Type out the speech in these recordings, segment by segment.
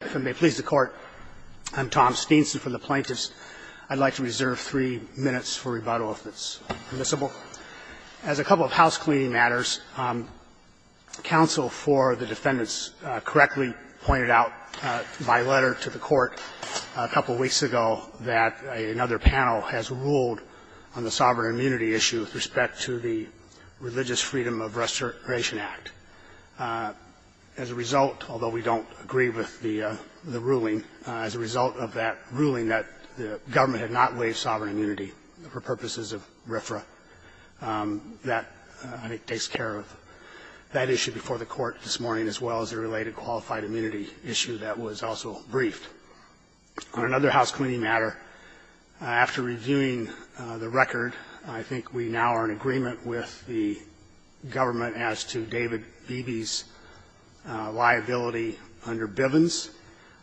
If it may please the Court, I'm Tom Steenson from the Plaintiffs. I'd like to reserve three minutes for rebuttal if it's permissible. As a couple of housecleaning matters, counsel for the defendants correctly pointed out by letter to the Court a couple weeks ago that another panel has ruled on the sovereign immunity issue with respect to the Religious Freedom of Restoration Act. As a result, although we don't agree with the ruling, as a result of that ruling that the government had not waived sovereign immunity for purposes of RFRA, that I think takes care of that issue before the Court this morning as well as the related qualified immunity issue that was also briefed. On another housecleaning matter, after reviewing the record, I think we now are in agreement with the government as to David Beebe's liability under Bivens.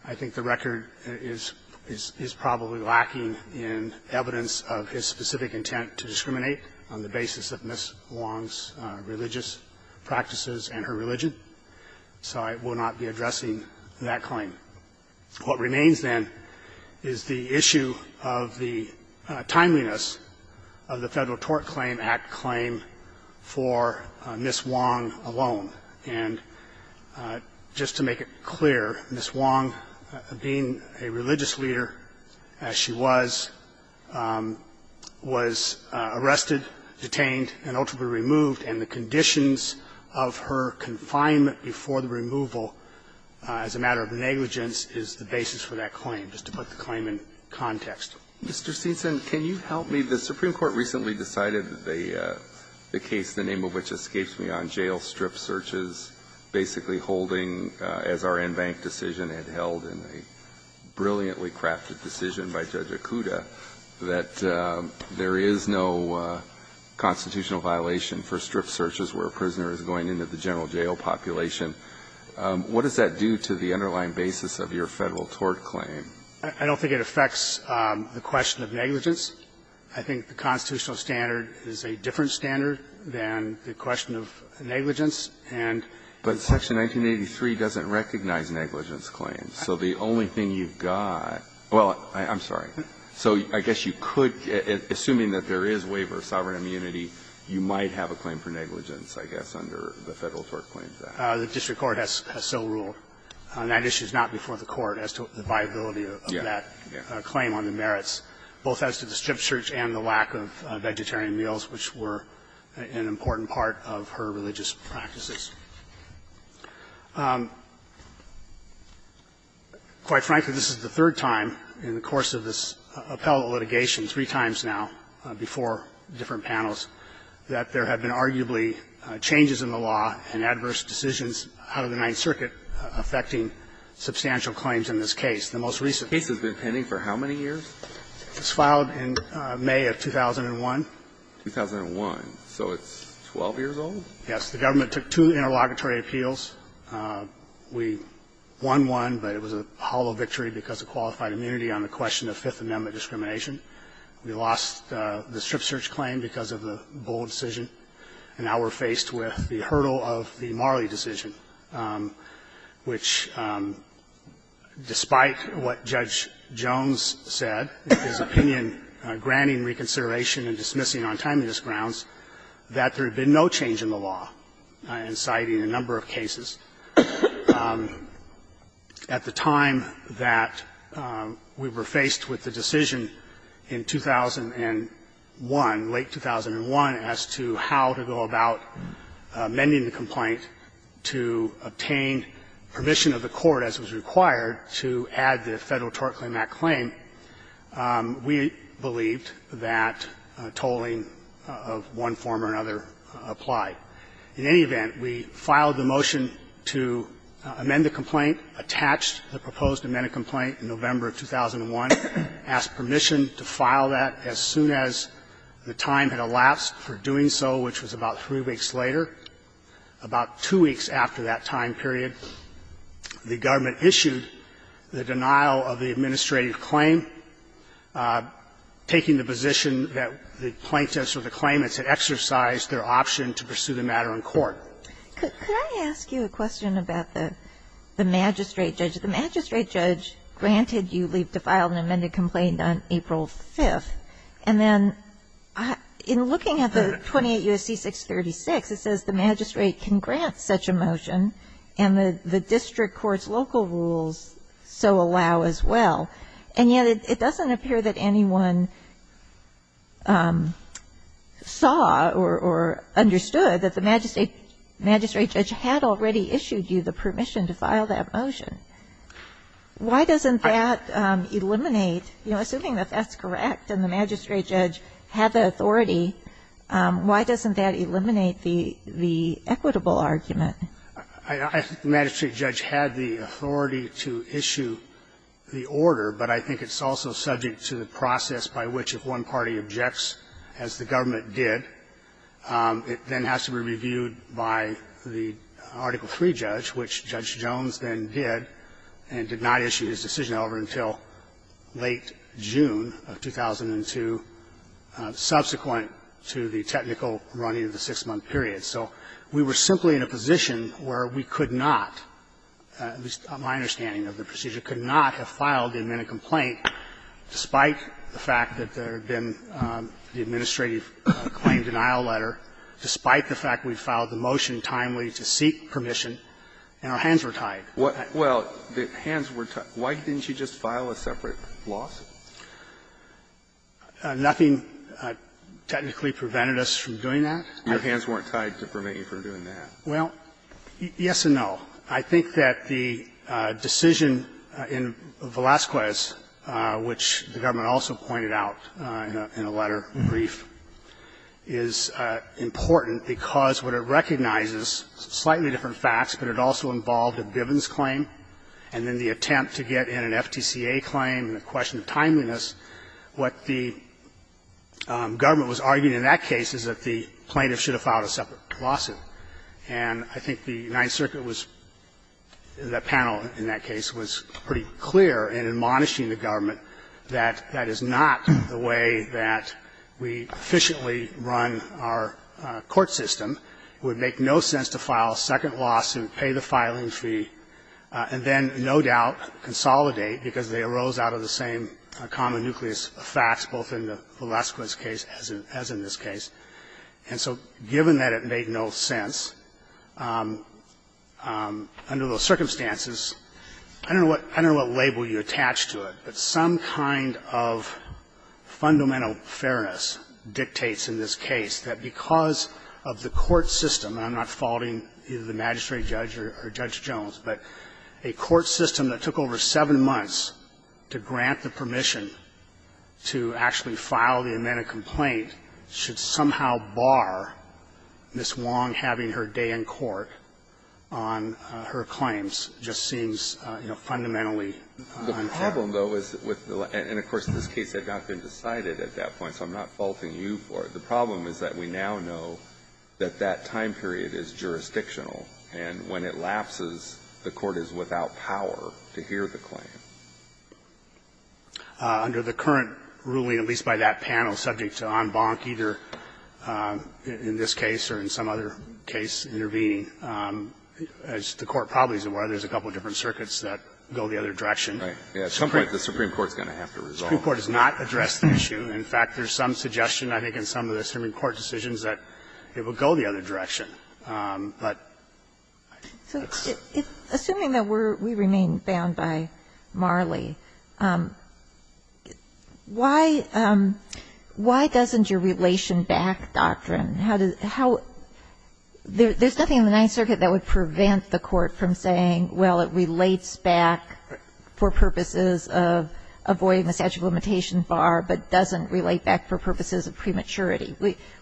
I think the record is probably lacking in evidence of his specific intent to discriminate on the basis of Ms. Wong's religious practices and her religion. So I will not be addressing that claim. What remains, then, is the issue of the timeliness of the Federal Tort Claim Act claim for Ms. Wong alone. And just to make it clear, Ms. Wong, being a religious leader, as she was, was arrested, detained, and ultimately removed, and the conditions of her confinement before the removal as a matter of negligence is the basis for that claim, just to put the claim in context. Mr. Steenson, can you help me? The Supreme Court recently decided that the case, the name of which escapes me, on jail strip searches, basically holding, as our in-bank decision had held in a brilliantly crafted decision by Judge Acuda, that there is no constitutional violation for strip searches. What does that do to the underlying basis of your Federal tort claim? I don't think it affects the question of negligence. I think the constitutional standard is a different standard than the question of negligence, and the question of negligence. But Section 1983 doesn't recognize negligence claims. So the only thing you've got – well, I'm sorry. So I guess you could, assuming that there is waiver of sovereign immunity, you might have a claim for negligence, I guess, under the Federal tort claim. The district court has so ruled. And that issue is not before the Court as to the viability of that claim on the merits, both as to the strip search and the lack of vegetarian meals, which were an important part of her religious practices. Quite frankly, this is the third time in the course of this appellate litigation, three times now, before different panels, that there have been arguably changes in the law and adverse decisions out of the Ninth Circuit affecting substantial claims in this case. The most recent case has been pending for how many years? It was filed in May of 2001. 2001. So it's 12 years old? Yes. The government took two interlocutory appeals. We won one, but it was a hollow victory because of qualified immunity on the question of Fifth Amendment discrimination. We lost the strip search claim because of the Bull decision. And now we're faced with the hurdle of the Marley decision, which, despite what Judge Jones said, his opinion granting reconsideration and dismissing on timeliness grounds, that there had been no change in the law in citing a number of cases. At the time that we were faced with the decision in 2001, late 2001, as to how to make the complaint, to obtain permission of the Court, as was required, to add the Federal tort claim to that claim, we believed that tolling of one form or another applied. In any event, we filed the motion to amend the complaint, attached the proposed amended complaint in November of 2001, asked permission to file that as soon as the time had elapsed for doing so, which was about three weeks later, about two weeks after that time period, the government issued the denial of the administrative claim, taking the position that the plaintiffs or the claimants had exercised their option to pursue the matter in court. Could I ask you a question about the magistrate judge? The magistrate judge granted you leave to file an amended complaint on April 5th. And then in looking at the 28 U.S.C. 636, it says the magistrate can grant such a motion and the district court's local rules so allow as well, and yet it doesn't appear that anyone saw or understood that the magistrate judge had already issued you the permission to file that motion. Why doesn't that eliminate, you know, assuming that that's correct and the magistrate judge had the authority, why doesn't that eliminate the equitable argument? I think the magistrate judge had the authority to issue the order, but I think it's also subject to the process by which if one party objects, as the government did, it then has to be reviewed by the Article III judge, which Judge Jones then did, and did not issue his decision over until late June of 2002, subsequent to the technical running of the 6-month period. So we were simply in a position where we could not, at least my understanding of the procedure, could not have filed the amended complaint, despite the fact that there had been the administrative claim denial letter, despite the fact we'd filed the motion timely to seek permission, and our hands were tied. Well, the hands were tied. Why didn't you just file a separate lawsuit? Nothing technically prevented us from doing that. Your hands weren't tied to prevent you from doing that. Well, yes and no. I think that the decision in Velazquez, which the government also pointed out in a letter brief, is important because what it recognizes, slightly different facts, but it also involved a Bivens claim, and then the attempt to get in an FTCA claim, and the question of timeliness, what the government was arguing in that case is that the plaintiff should have filed a separate lawsuit, and I think the Ninth Circuit was, the panel in that case was pretty clear in admonishing the government that that is not the way that we efficiently run our court system. It would make no sense to file a second lawsuit, pay the filing fee, and then no doubt consolidate, because they arose out of the same common nucleus of facts, both in the Velazquez case as in this case. And so given that it made no sense, under those circumstances, I don't know what label you attach to it, but some kind of fundamental fairness dictates in this case that because of the court system, and I'm not faulting either the magistrate judge or Judge Jones, but a court system that took over seven months to grant the plaintiff's claim, to somehow bar Ms. Wong having her day in court on her claims just seems, you know, fundamentally unfair. The problem, though, is with the law, and of course, this case had not been decided at that point, so I'm not faulting you for it. The problem is that we now know that that time period is jurisdictional, and when it lapses, the court is without power to hear the claim. Under the current ruling, at least by that panel, subject to en banc, either in this case or in some other case, intervening, as the Court probably is aware, there's a couple of different circuits that go the other direction. The Supreme Court is going to have to resolve it. The Supreme Court has not addressed the issue. In fact, there's some suggestion, I think, in some of the Supreme Court decisions that it would go the other direction. But I don't know. So assuming that we remain bound by Marley, why doesn't your relation back doctrine how does there's nothing in the Ninth Circuit that would prevent the court from saying, well, it relates back for purposes of avoiding the statute of limitation bar, but doesn't relate back for purposes of prematurity.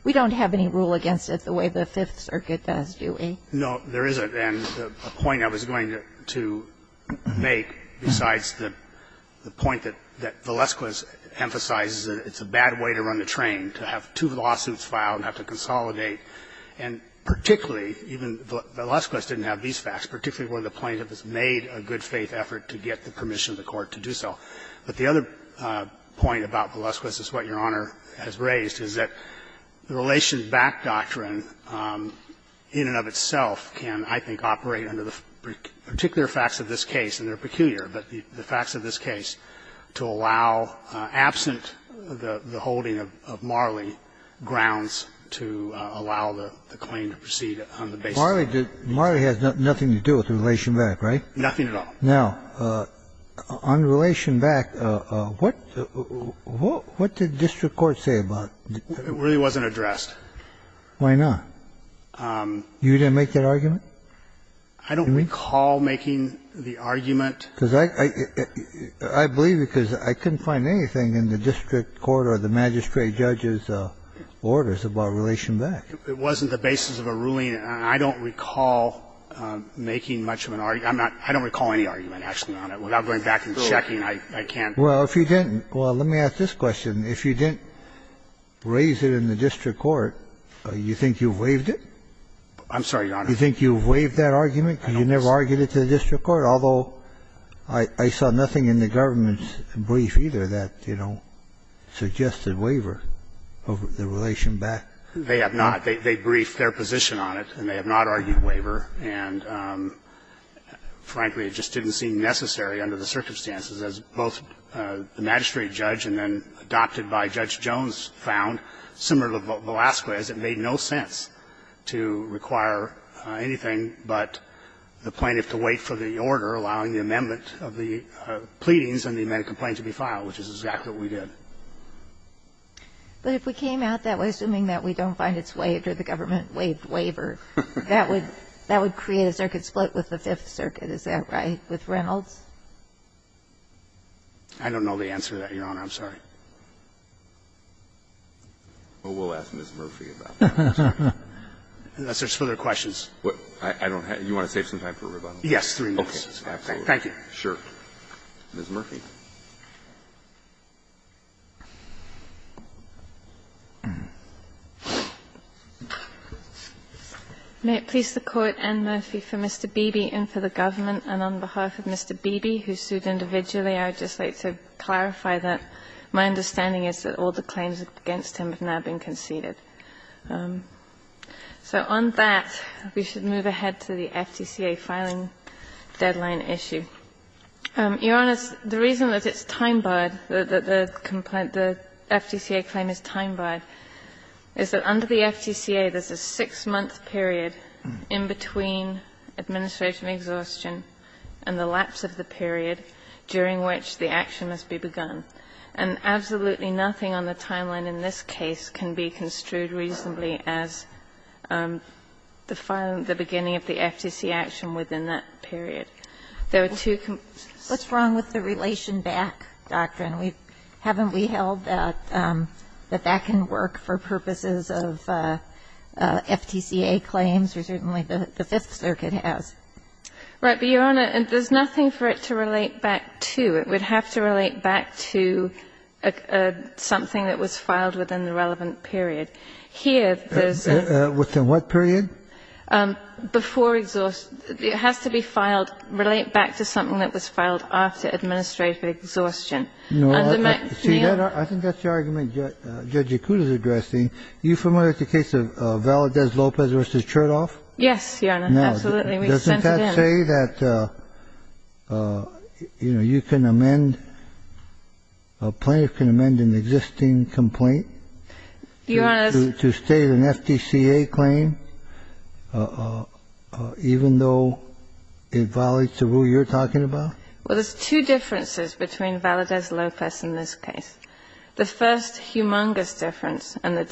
We don't have any rule against it the way the Fifth Circuit does, do we? No, there isn't. And the point I was going to make, besides the point that Valesquez emphasizes that it's a bad way to run the train, to have two lawsuits filed and have to consolidate, and particularly, even Valesquez didn't have these facts, particularly where the plaintiff has made a good faith effort to get the permission of the court to do so. But the other point about Valesquez is what Your Honor has raised, is that the relation back doctrine in and of itself can, I think, operate under the particular facts of this case, and they're peculiar, but the facts of this case to allow, absent the holding of Marley, grounds to allow the claim to proceed on the basis of Marley. Marley has nothing to do with the relation back, right? Nothing at all. Now, on relation back, what did district court say about it? It really wasn't addressed. Why not? You didn't make that argument? I don't recall making the argument. Because I believe it because I couldn't find anything in the district court or the magistrate judge's orders about relation back. It wasn't the basis of a ruling, and I don't recall making much of an argument on it. I don't recall any argument, actually, on it. Without going back and checking, I can't. Well, if you didn't – well, let me ask this question. If you didn't raise it in the district court, you think you've waived it? I'm sorry, Your Honor. You think you've waived that argument because you never argued it to the district court, although I saw nothing in the government's brief either that, you know, suggested waiver of the relation back. They have not. They briefed their position on it, and they have not argued waiver. And, frankly, it just didn't seem necessary under the circumstances, as both the magistrate judge and then adopted by Judge Jones found, similar to Velasquez, it made no sense to require anything but the plaintiff to wait for the order allowing the amendment of the pleadings and the amended complaint to be filed, which is exactly what we did. But if we came out that way, assuming that we don't find it's waived or the government waived waiver, that would create a circuit split with the Fifth Circuit. Is that right, with Reynolds? I don't know the answer to that, Your Honor. I'm sorry. Well, we'll ask Ms. Murphy about that. Unless there's further questions. I don't have – you want to save some time for rebuttal? Yes, three minutes. Okay. Absolutely. Thank you. Sure. Ms. Murphy. May it please the Court, Anne Murphy, for Mr. Beebe and for the government. And on behalf of Mr. Beebe, who sued individually, I would just like to clarify that my understanding is that all the claims against him have now been conceded. So on that, we should move ahead to the FTCA filing deadline issue. Your Honor, the reason that it's time-barred, that the FTCA claim is time-barred is that under the FTCA, there's a six-month period in between administration exhaustion and the lapse of the period during which the action must be begun. And absolutely nothing on the timeline in this case can be construed reasonably as the filing, the beginning of the FTCA action within that period. There are two – What's wrong with the relation back doctrine? Haven't we held that that can work for purposes of FTCA claims, or certainly the Fifth Circuit has? Right. But, Your Honor, there's nothing for it to relate back to. It would have to relate back to something that was filed within the relevant period. Here, there's a – Within what period? Before exhaustion. It has to be filed, relate back to something that was filed after administrative exhaustion. No, see, I think that's the argument Judge Acuta's addressing. Are you familiar with the case of Valadez-Lopez v. Chertoff? Yes, Your Honor, absolutely. We sent it in. Now, doesn't that say that, you know, you can amend – a plaintiff can amend an existing complaint to state an FTCA claim? Even though it violates the rule you're talking about? Well, there's two differences between Valadez-Lopez in this case. The first humongous difference and the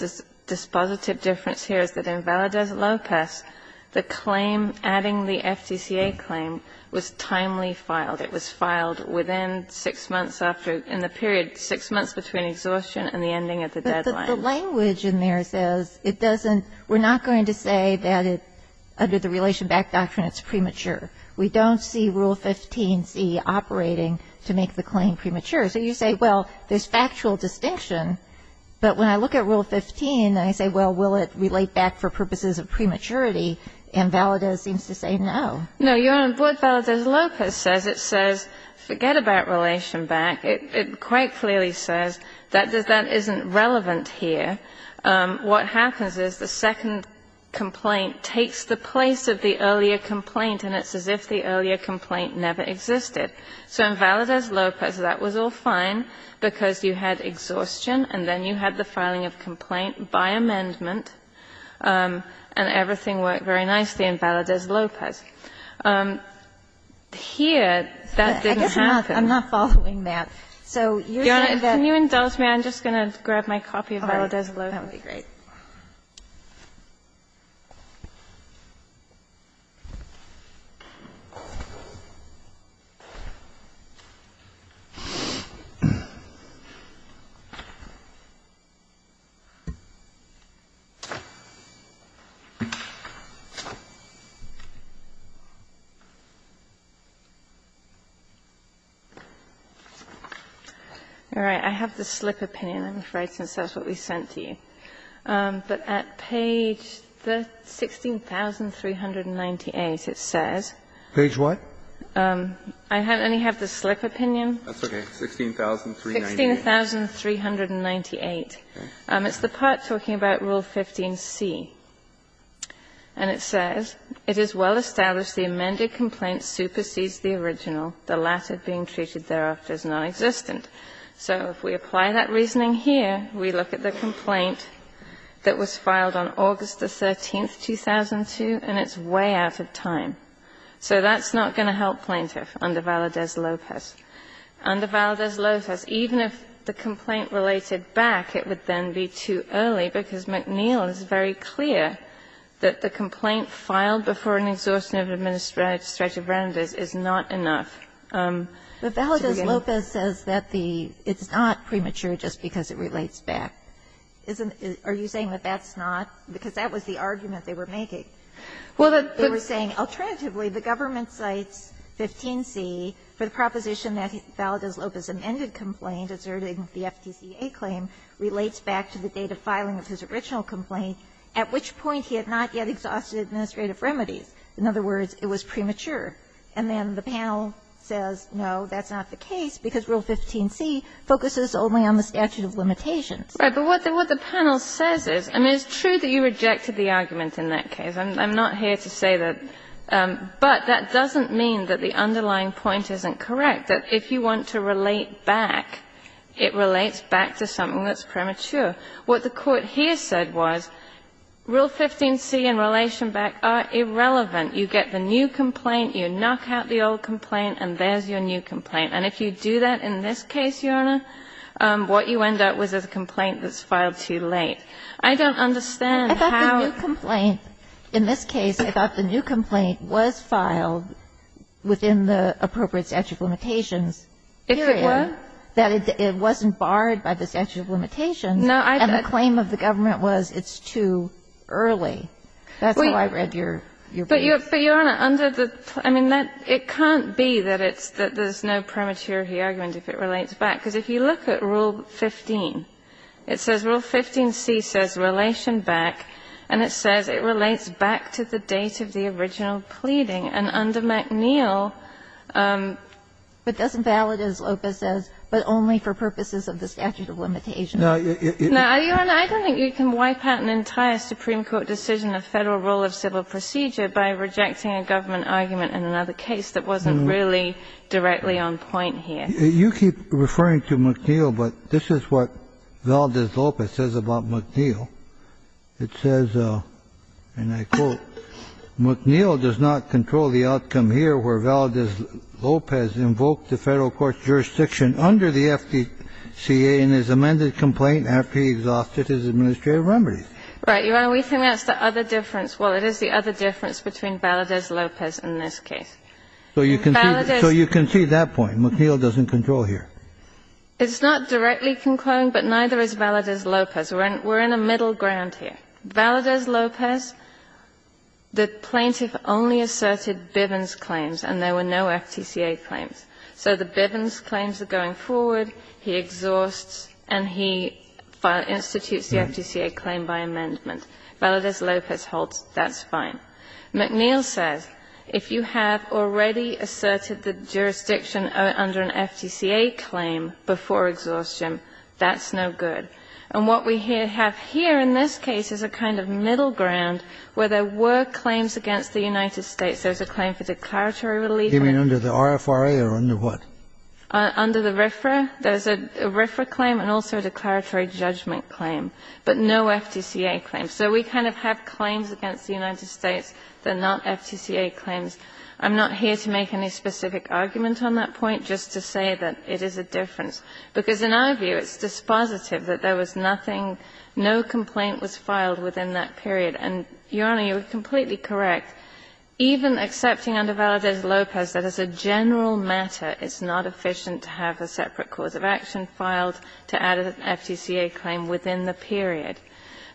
dispositive difference here is that in Valadez-Lopez, the claim adding the FTCA claim was timely filed. It was filed within six months after – in the period six months between exhaustion and the ending of the deadline. But the language in there says it doesn't – we're not going to say that it – under the relation back doctrine, it's premature. We don't see Rule 15c operating to make the claim premature. So you say, well, there's factual distinction, but when I look at Rule 15, I say, well, will it relate back for purposes of prematurity? And Valadez seems to say no. No, Your Honor, what Valadez-Lopez says, it says forget about relation back. It quite clearly says that that isn't relevant here. What happens is the second complaint takes the place of the earlier complaint, and it's as if the earlier complaint never existed. So in Valadez-Lopez, that was all fine because you had exhaustion and then you had the filing of complaint by amendment, and everything worked very nicely in Valadez-Lopez. Here, that didn't happen. I'm not following that. So you're saying that – Ms. Kagan, can you indulge me? I'm just going to grab my copy of Valadez-Lopez. Ms. Kagan, that would be great. All right. I have the slip opinion. I'm afraid since that's what we sent to you. But at page 16,398, it says – Page what? I only have the slip opinion. That's okay. 16,398. 16,398. It's the part talking about Rule 15c. And it says, So if we apply that reasoning here, we look at the complaint that was filed on August 13, 2002, and it's way out of time. So that's not going to help plaintiff under Valadez-Lopez. Under Valadez-Lopez, even if the complaint related back, it would then be too early, because McNeil is very clear that the complaint filed by the plaintiff is not going And so the complaint filed before an exhaustive administrative round is not enough. But Valadez-Lopez says that the – it's not premature just because it relates back. Are you saying that that's not? Because that was the argument they were making. They were saying, alternatively, the government cites 15c for the proposition that Valadez-Lopez's amended complaint asserting the FTCA claim relates back to the date of filing of his original complaint, at which point he had not yet exhausted administrative remedies. In other words, it was premature. And then the panel says, no, that's not the case, because Rule 15c focuses only on the statute of limitations. Right. But what the panel says is, I mean, it's true that you rejected the argument in that case. I'm not here to say that. But that doesn't mean that the underlying point isn't correct, that if you want to relate back, it relates back to something that's premature. What the Court here said was, Rule 15c and Relation Back are irrelevant. You get the new complaint, you knock out the old complaint, and there's your new complaint. And if you do that in this case, Your Honor, what you end up with is a complaint that's filed too late. I don't understand how the complaint in this case about the new complaint was filed within the appropriate statute of limitations period, that it wasn't barred by the statute of limitations, and the claim of the government was it's too early. That's how I read your brief. But, Your Honor, under the plaintiff, I mean, it can't be that it's no prematurity argument if it relates back. Because if you look at Rule 15, it says Rule 15c says Relation Back, and it says Relation Back to the date of the original pleading. And under McNeil, it doesn't validate, as Lopez says, but only for purposes of the statute of limitations. Now, Your Honor, I don't think you can wipe out an entire Supreme Court decision of Federal Rule of Civil Procedure by rejecting a government argument in another case that wasn't really directly on point here. You keep referring to McNeil, but this is what Valdez-Lopez says about McNeil. It says, and I quote, McNeil does not control the outcome here where Valdez-Lopez invoked the Federal court's jurisdiction under the FDCA in his amended complaint after he exhausted his administrative remedies. Right, Your Honor. We think that's the other difference. Well, it is the other difference between Valdez-Lopez in this case. So you can see that point, McNeil doesn't control here. It's not directly concluding, but neither is Valdez-Lopez. We're in a middle ground here. Valdez-Lopez, the plaintiff only asserted Bivens claims and there were no FTCA claims. So the Bivens claims are going forward, he exhausts and he institutes the FTCA claim by amendment. Valdez-Lopez holds that's fine. McNeil says if you have already asserted the jurisdiction under an FTCA claim before exhaustion, that's no good. And what we have here in this case is a kind of middle ground where there were claims against the United States. There's a claim for declaratory relief. You mean under the RFRA or under what? Under the RFRA. There's a RFRA claim and also a declaratory judgment claim, but no FTCA claim. So we kind of have claims against the United States that are not FTCA claims. I'm not here to make any specific argument on that point, just to say that it is a difference. Because in our view, it's dispositive that there was nothing, no complaint was filed within that period. And, Your Honor, you are completely correct, even accepting under Valdez-Lopez that as a general matter, it's not efficient to have a separate course of action filed to add an FTCA claim within the period.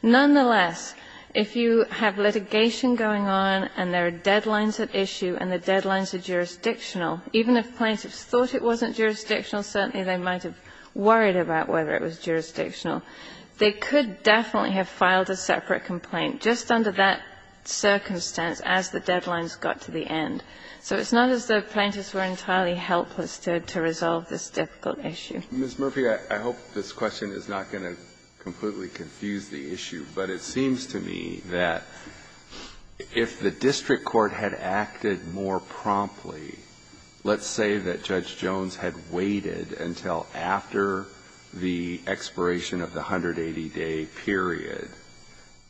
Nonetheless, if you have litigation going on and there are deadlines at issue and the deadlines are jurisdictional, even if plaintiffs thought it wasn't jurisdictional, certainly they might have worried about whether it was jurisdictional, they could definitely have filed a separate complaint just under that circumstance as the deadlines got to the end. So it's not as though plaintiffs were entirely helpless to resolve this difficult issue. Breyer. Mr. Murphy, I hope this question is not going to completely confuse the issue, but it seems to me that if the district court had acted more promptly, let's say that Judge Jones had waited until after the expiration of the 180-day period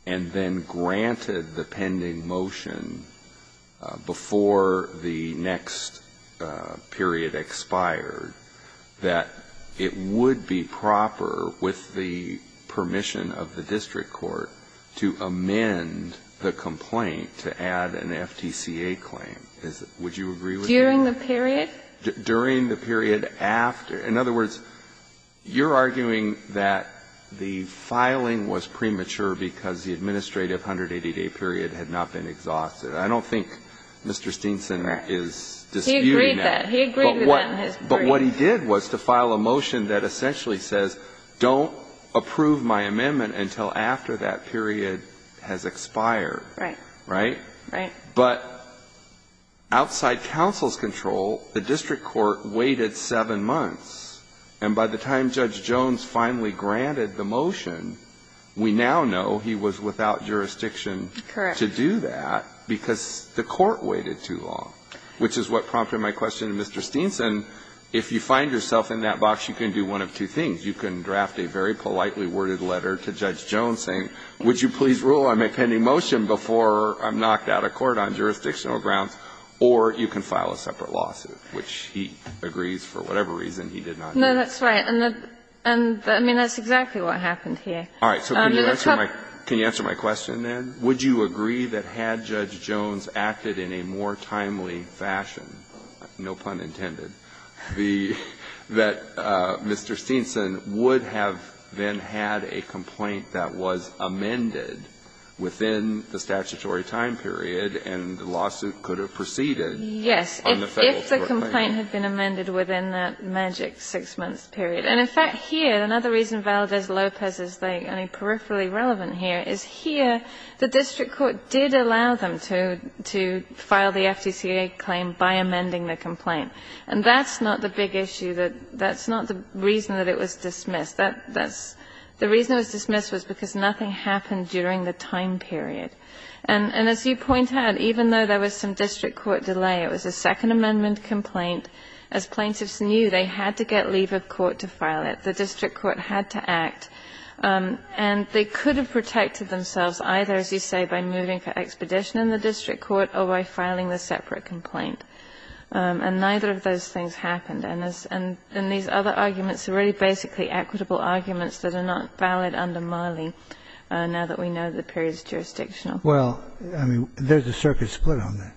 and then granted the pending motion before the next period expired, that it would be proper with the permission of the district court to amend the complaint to add an FTCA claim. During the period? During the period after. In other words, you're arguing that the filing was premature because the administrative 180-day period had not been exhausted. I don't think Mr. Steenson is disputing that. He agreed with that. He agreed with that in his brief. But what he did was to file a motion that essentially says, don't approve my amendment until after that period has expired. Right. Right? Right. But outside counsel's control, the district court waited seven months, and by the time Judge Jones finally granted the motion, we now know he was without jurisdiction to do that because the court waited too long, which is what prompted my question to Mr. Steenson. If you find yourself in that box, you can do one of two things. You can draft a very politely worded letter to Judge Jones saying, would you please rule on my pending motion before I'm knocked out of court on jurisdictional grounds, or you can file a separate lawsuit, which he agrees, for whatever reason, he did not do. No, that's right. And I mean, that's exactly what happened here. All right. So can you answer my question then? Would you agree that had Judge Jones acted in a more timely fashion, no pun intended, that Mr. Steenson would have then had a complaint that was amended within the statutory time period, and the lawsuit could have proceeded on the federal court claim? Yes, if the complaint had been amended within that magic six-month period. And in fact, here, another reason Valdez-Lopez is only peripherally relevant here is here, the district court did allow them to file the FDCA claim by amending the complaint. And that's not the big issue. That's not the reason that it was dismissed. The reason it was dismissed was because nothing happened during the time period. And as you point out, even though there was some district court delay, it was a Second Amendment complaint. As plaintiffs knew, they had to get leave of court to file it. The district court had to act. And they could have protected themselves either, as you say, by moving for expedition in the district court or by filing the separate complaint. And neither of those things happened. And these other arguments are really basically equitable arguments that are not valid under Marley, now that we know the period is jurisdictional. Well, I mean, there's a circuit split on that.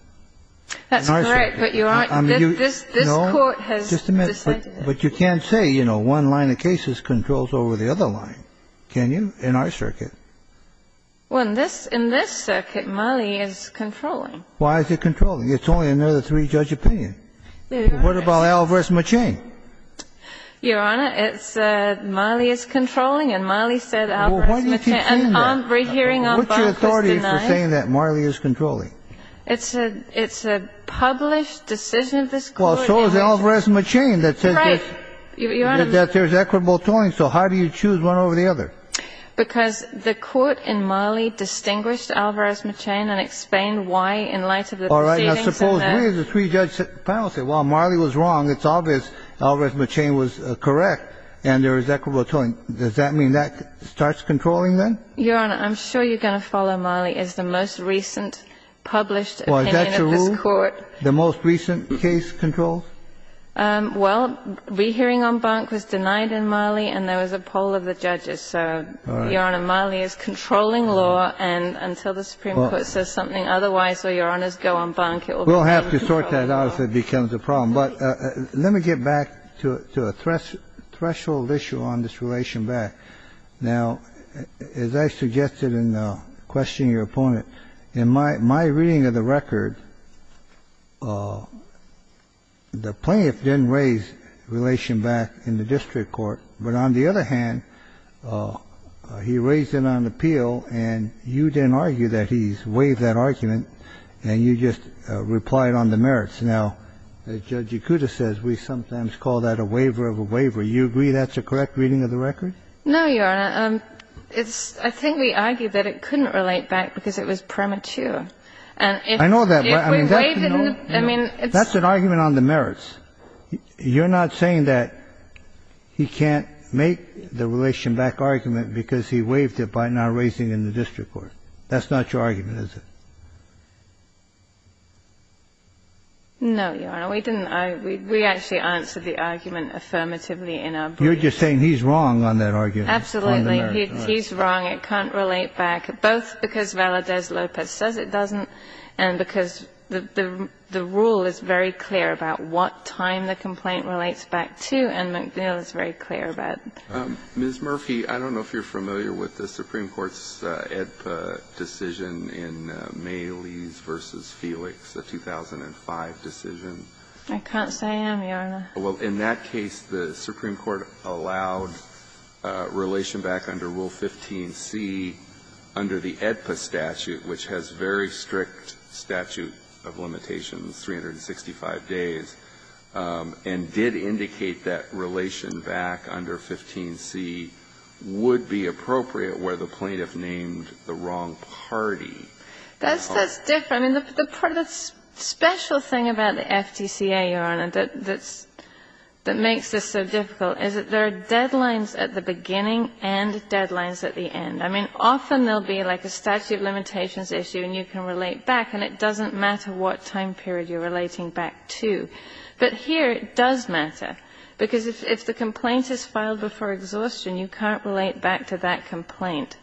That's great, but you're right. This Court has decided that. But you can't say, you know, one line of cases controls over the other line, can you, in our circuit? Well, in this circuit, Marley is controlling. Why is it controlling? It's only another three-judge opinion. What about Alvarez-McChain? Your Honor, it's Marley is controlling, and Marley said Alvarez-McChain. Well, why did you change that? And our hearing on Barth is denied. What's your authority for saying that Marley is controlling? It's a published decision of this Court. Well, so is Alvarez-McChain that says there's equitable tolling. So how do you choose one over the other? Because the Court in Marley distinguished Alvarez-McChain and explained why, in light of the proceedings in there. All right. Now, suppose we as a three-judge panel say, well, Marley was wrong. It's obvious Alvarez-McChain was correct, and there is equitable tolling. Does that mean that starts controlling then? Your Honor, I'm sure you're going to follow Marley as the most recent published opinion of this Court. Well, is that true? The most recent case controls? Well, rehearing on Barth was denied in Marley, and there was a poll of the judges. So, Your Honor, Marley is controlling law, and until the Supreme Court says something otherwise or Your Honors go on bank, it will be controlled. We'll have to sort that out if it becomes a problem. But let me get back to a threshold issue on this relation back. Now, as I suggested in questioning your opponent, in my reading of the record, the plaintiff didn't raise relation back in the district court, but on the other hand, he raised it on appeal, and you didn't argue that he's waived that argument, and you just replied on the merits. Now, Judge Yakuta says we sometimes call that a waiver of a waiver. You agree that's a correct reading of the record? No, Your Honor. I think we argued that it couldn't relate back because it was premature. I know that, but I mean, that's an argument on the merits. You're not saying that he can't make the relation back argument because he waived it by not raising it in the district court. That's not your argument, is it? No, Your Honor. We didn't. We actually answered the argument affirmatively in our brief. You're just saying he's wrong on that argument. Absolutely. He's wrong. It can't relate back, both because Valadez-Lopez says it doesn't and because the rule is very clear about what time the complaint relates back to, and McNeil is very clear about it. Ms. Murphy, I don't know if you're familiar with the Supreme Court's AEDPA decision in Maylees v. Felix, the 2005 decision. I can't say I am, Your Honor. Well, in that case, the Supreme Court allowed relation back under Rule 15c under the AEDPA statute, which has very strict statute of limitations, 365 days, and did indicate that relation back under 15c would be appropriate where the plaintiff named the wrong party. That's different. The special thing about the FTCA, Your Honor, that makes this so difficult is that there are deadlines at the beginning and deadlines at the end. I mean, often there will be like a statute of limitations issue and you can relate back and it doesn't matter what time period you're relating back to. But here it does matter because if the complaint is filed before exhaustion, you can't relate back to that complaint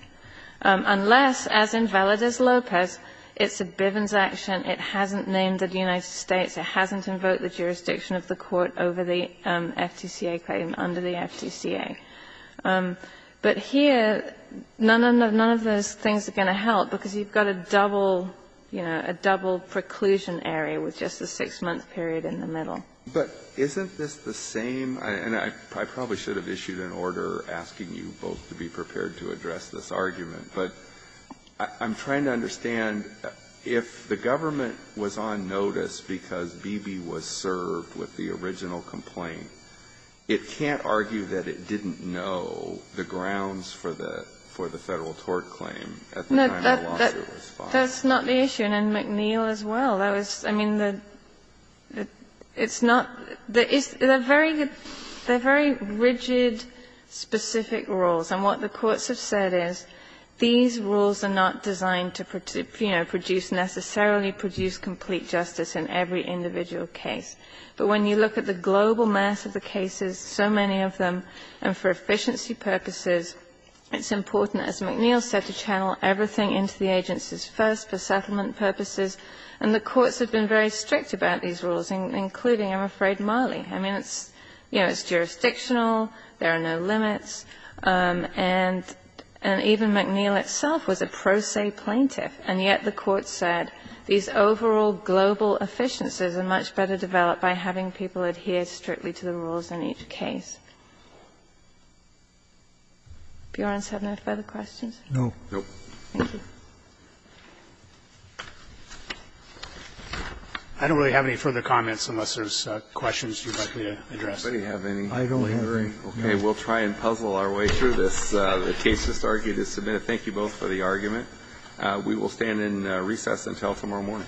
unless, as in Valadez-Lopez, it's a Bivens action, it hasn't named the United States, it hasn't invoked the jurisdiction of the court over the FTCA claim under the FTCA. But here, none of those things are going to help because you've got a double, you know, a double preclusion area with just a six-month period in the middle. But isn't this the same? And I probably should have issued an order asking you both to be prepared to address this argument, but I'm trying to understand if the government was on notice because when B.B. was served with the original complaint, it can't argue that it didn't know the grounds for the Federal tort claim at the time the lawsuit was filed. That's not the issue. And McNeil as well. I mean, it's not. They're very rigid, specific rules. And what the courts have said is these rules are not designed to, you know, necessarily produce complete justice in every individual case. But when you look at the global mass of the cases, so many of them, and for efficiency purposes, it's important, as McNeil said, to channel everything into the agencies first for settlement purposes. And the courts have been very strict about these rules, including, I'm afraid, Marley. I mean, it's, you know, it's jurisdictional, there are no limits. And even McNeil itself was a pro se plaintiff. And yet the courts said these overall global efficiencies are much better developed by having people adhere strictly to the rules in each case. Do Your Honors have no further questions? No. Thank you. I don't really have any further comments unless there's questions you'd like me to address. I don't have any. I don't either. Okay. We'll try and puzzle our way through this. The case is submitted. Thank you both for the argument. We will stand in recess until tomorrow morning.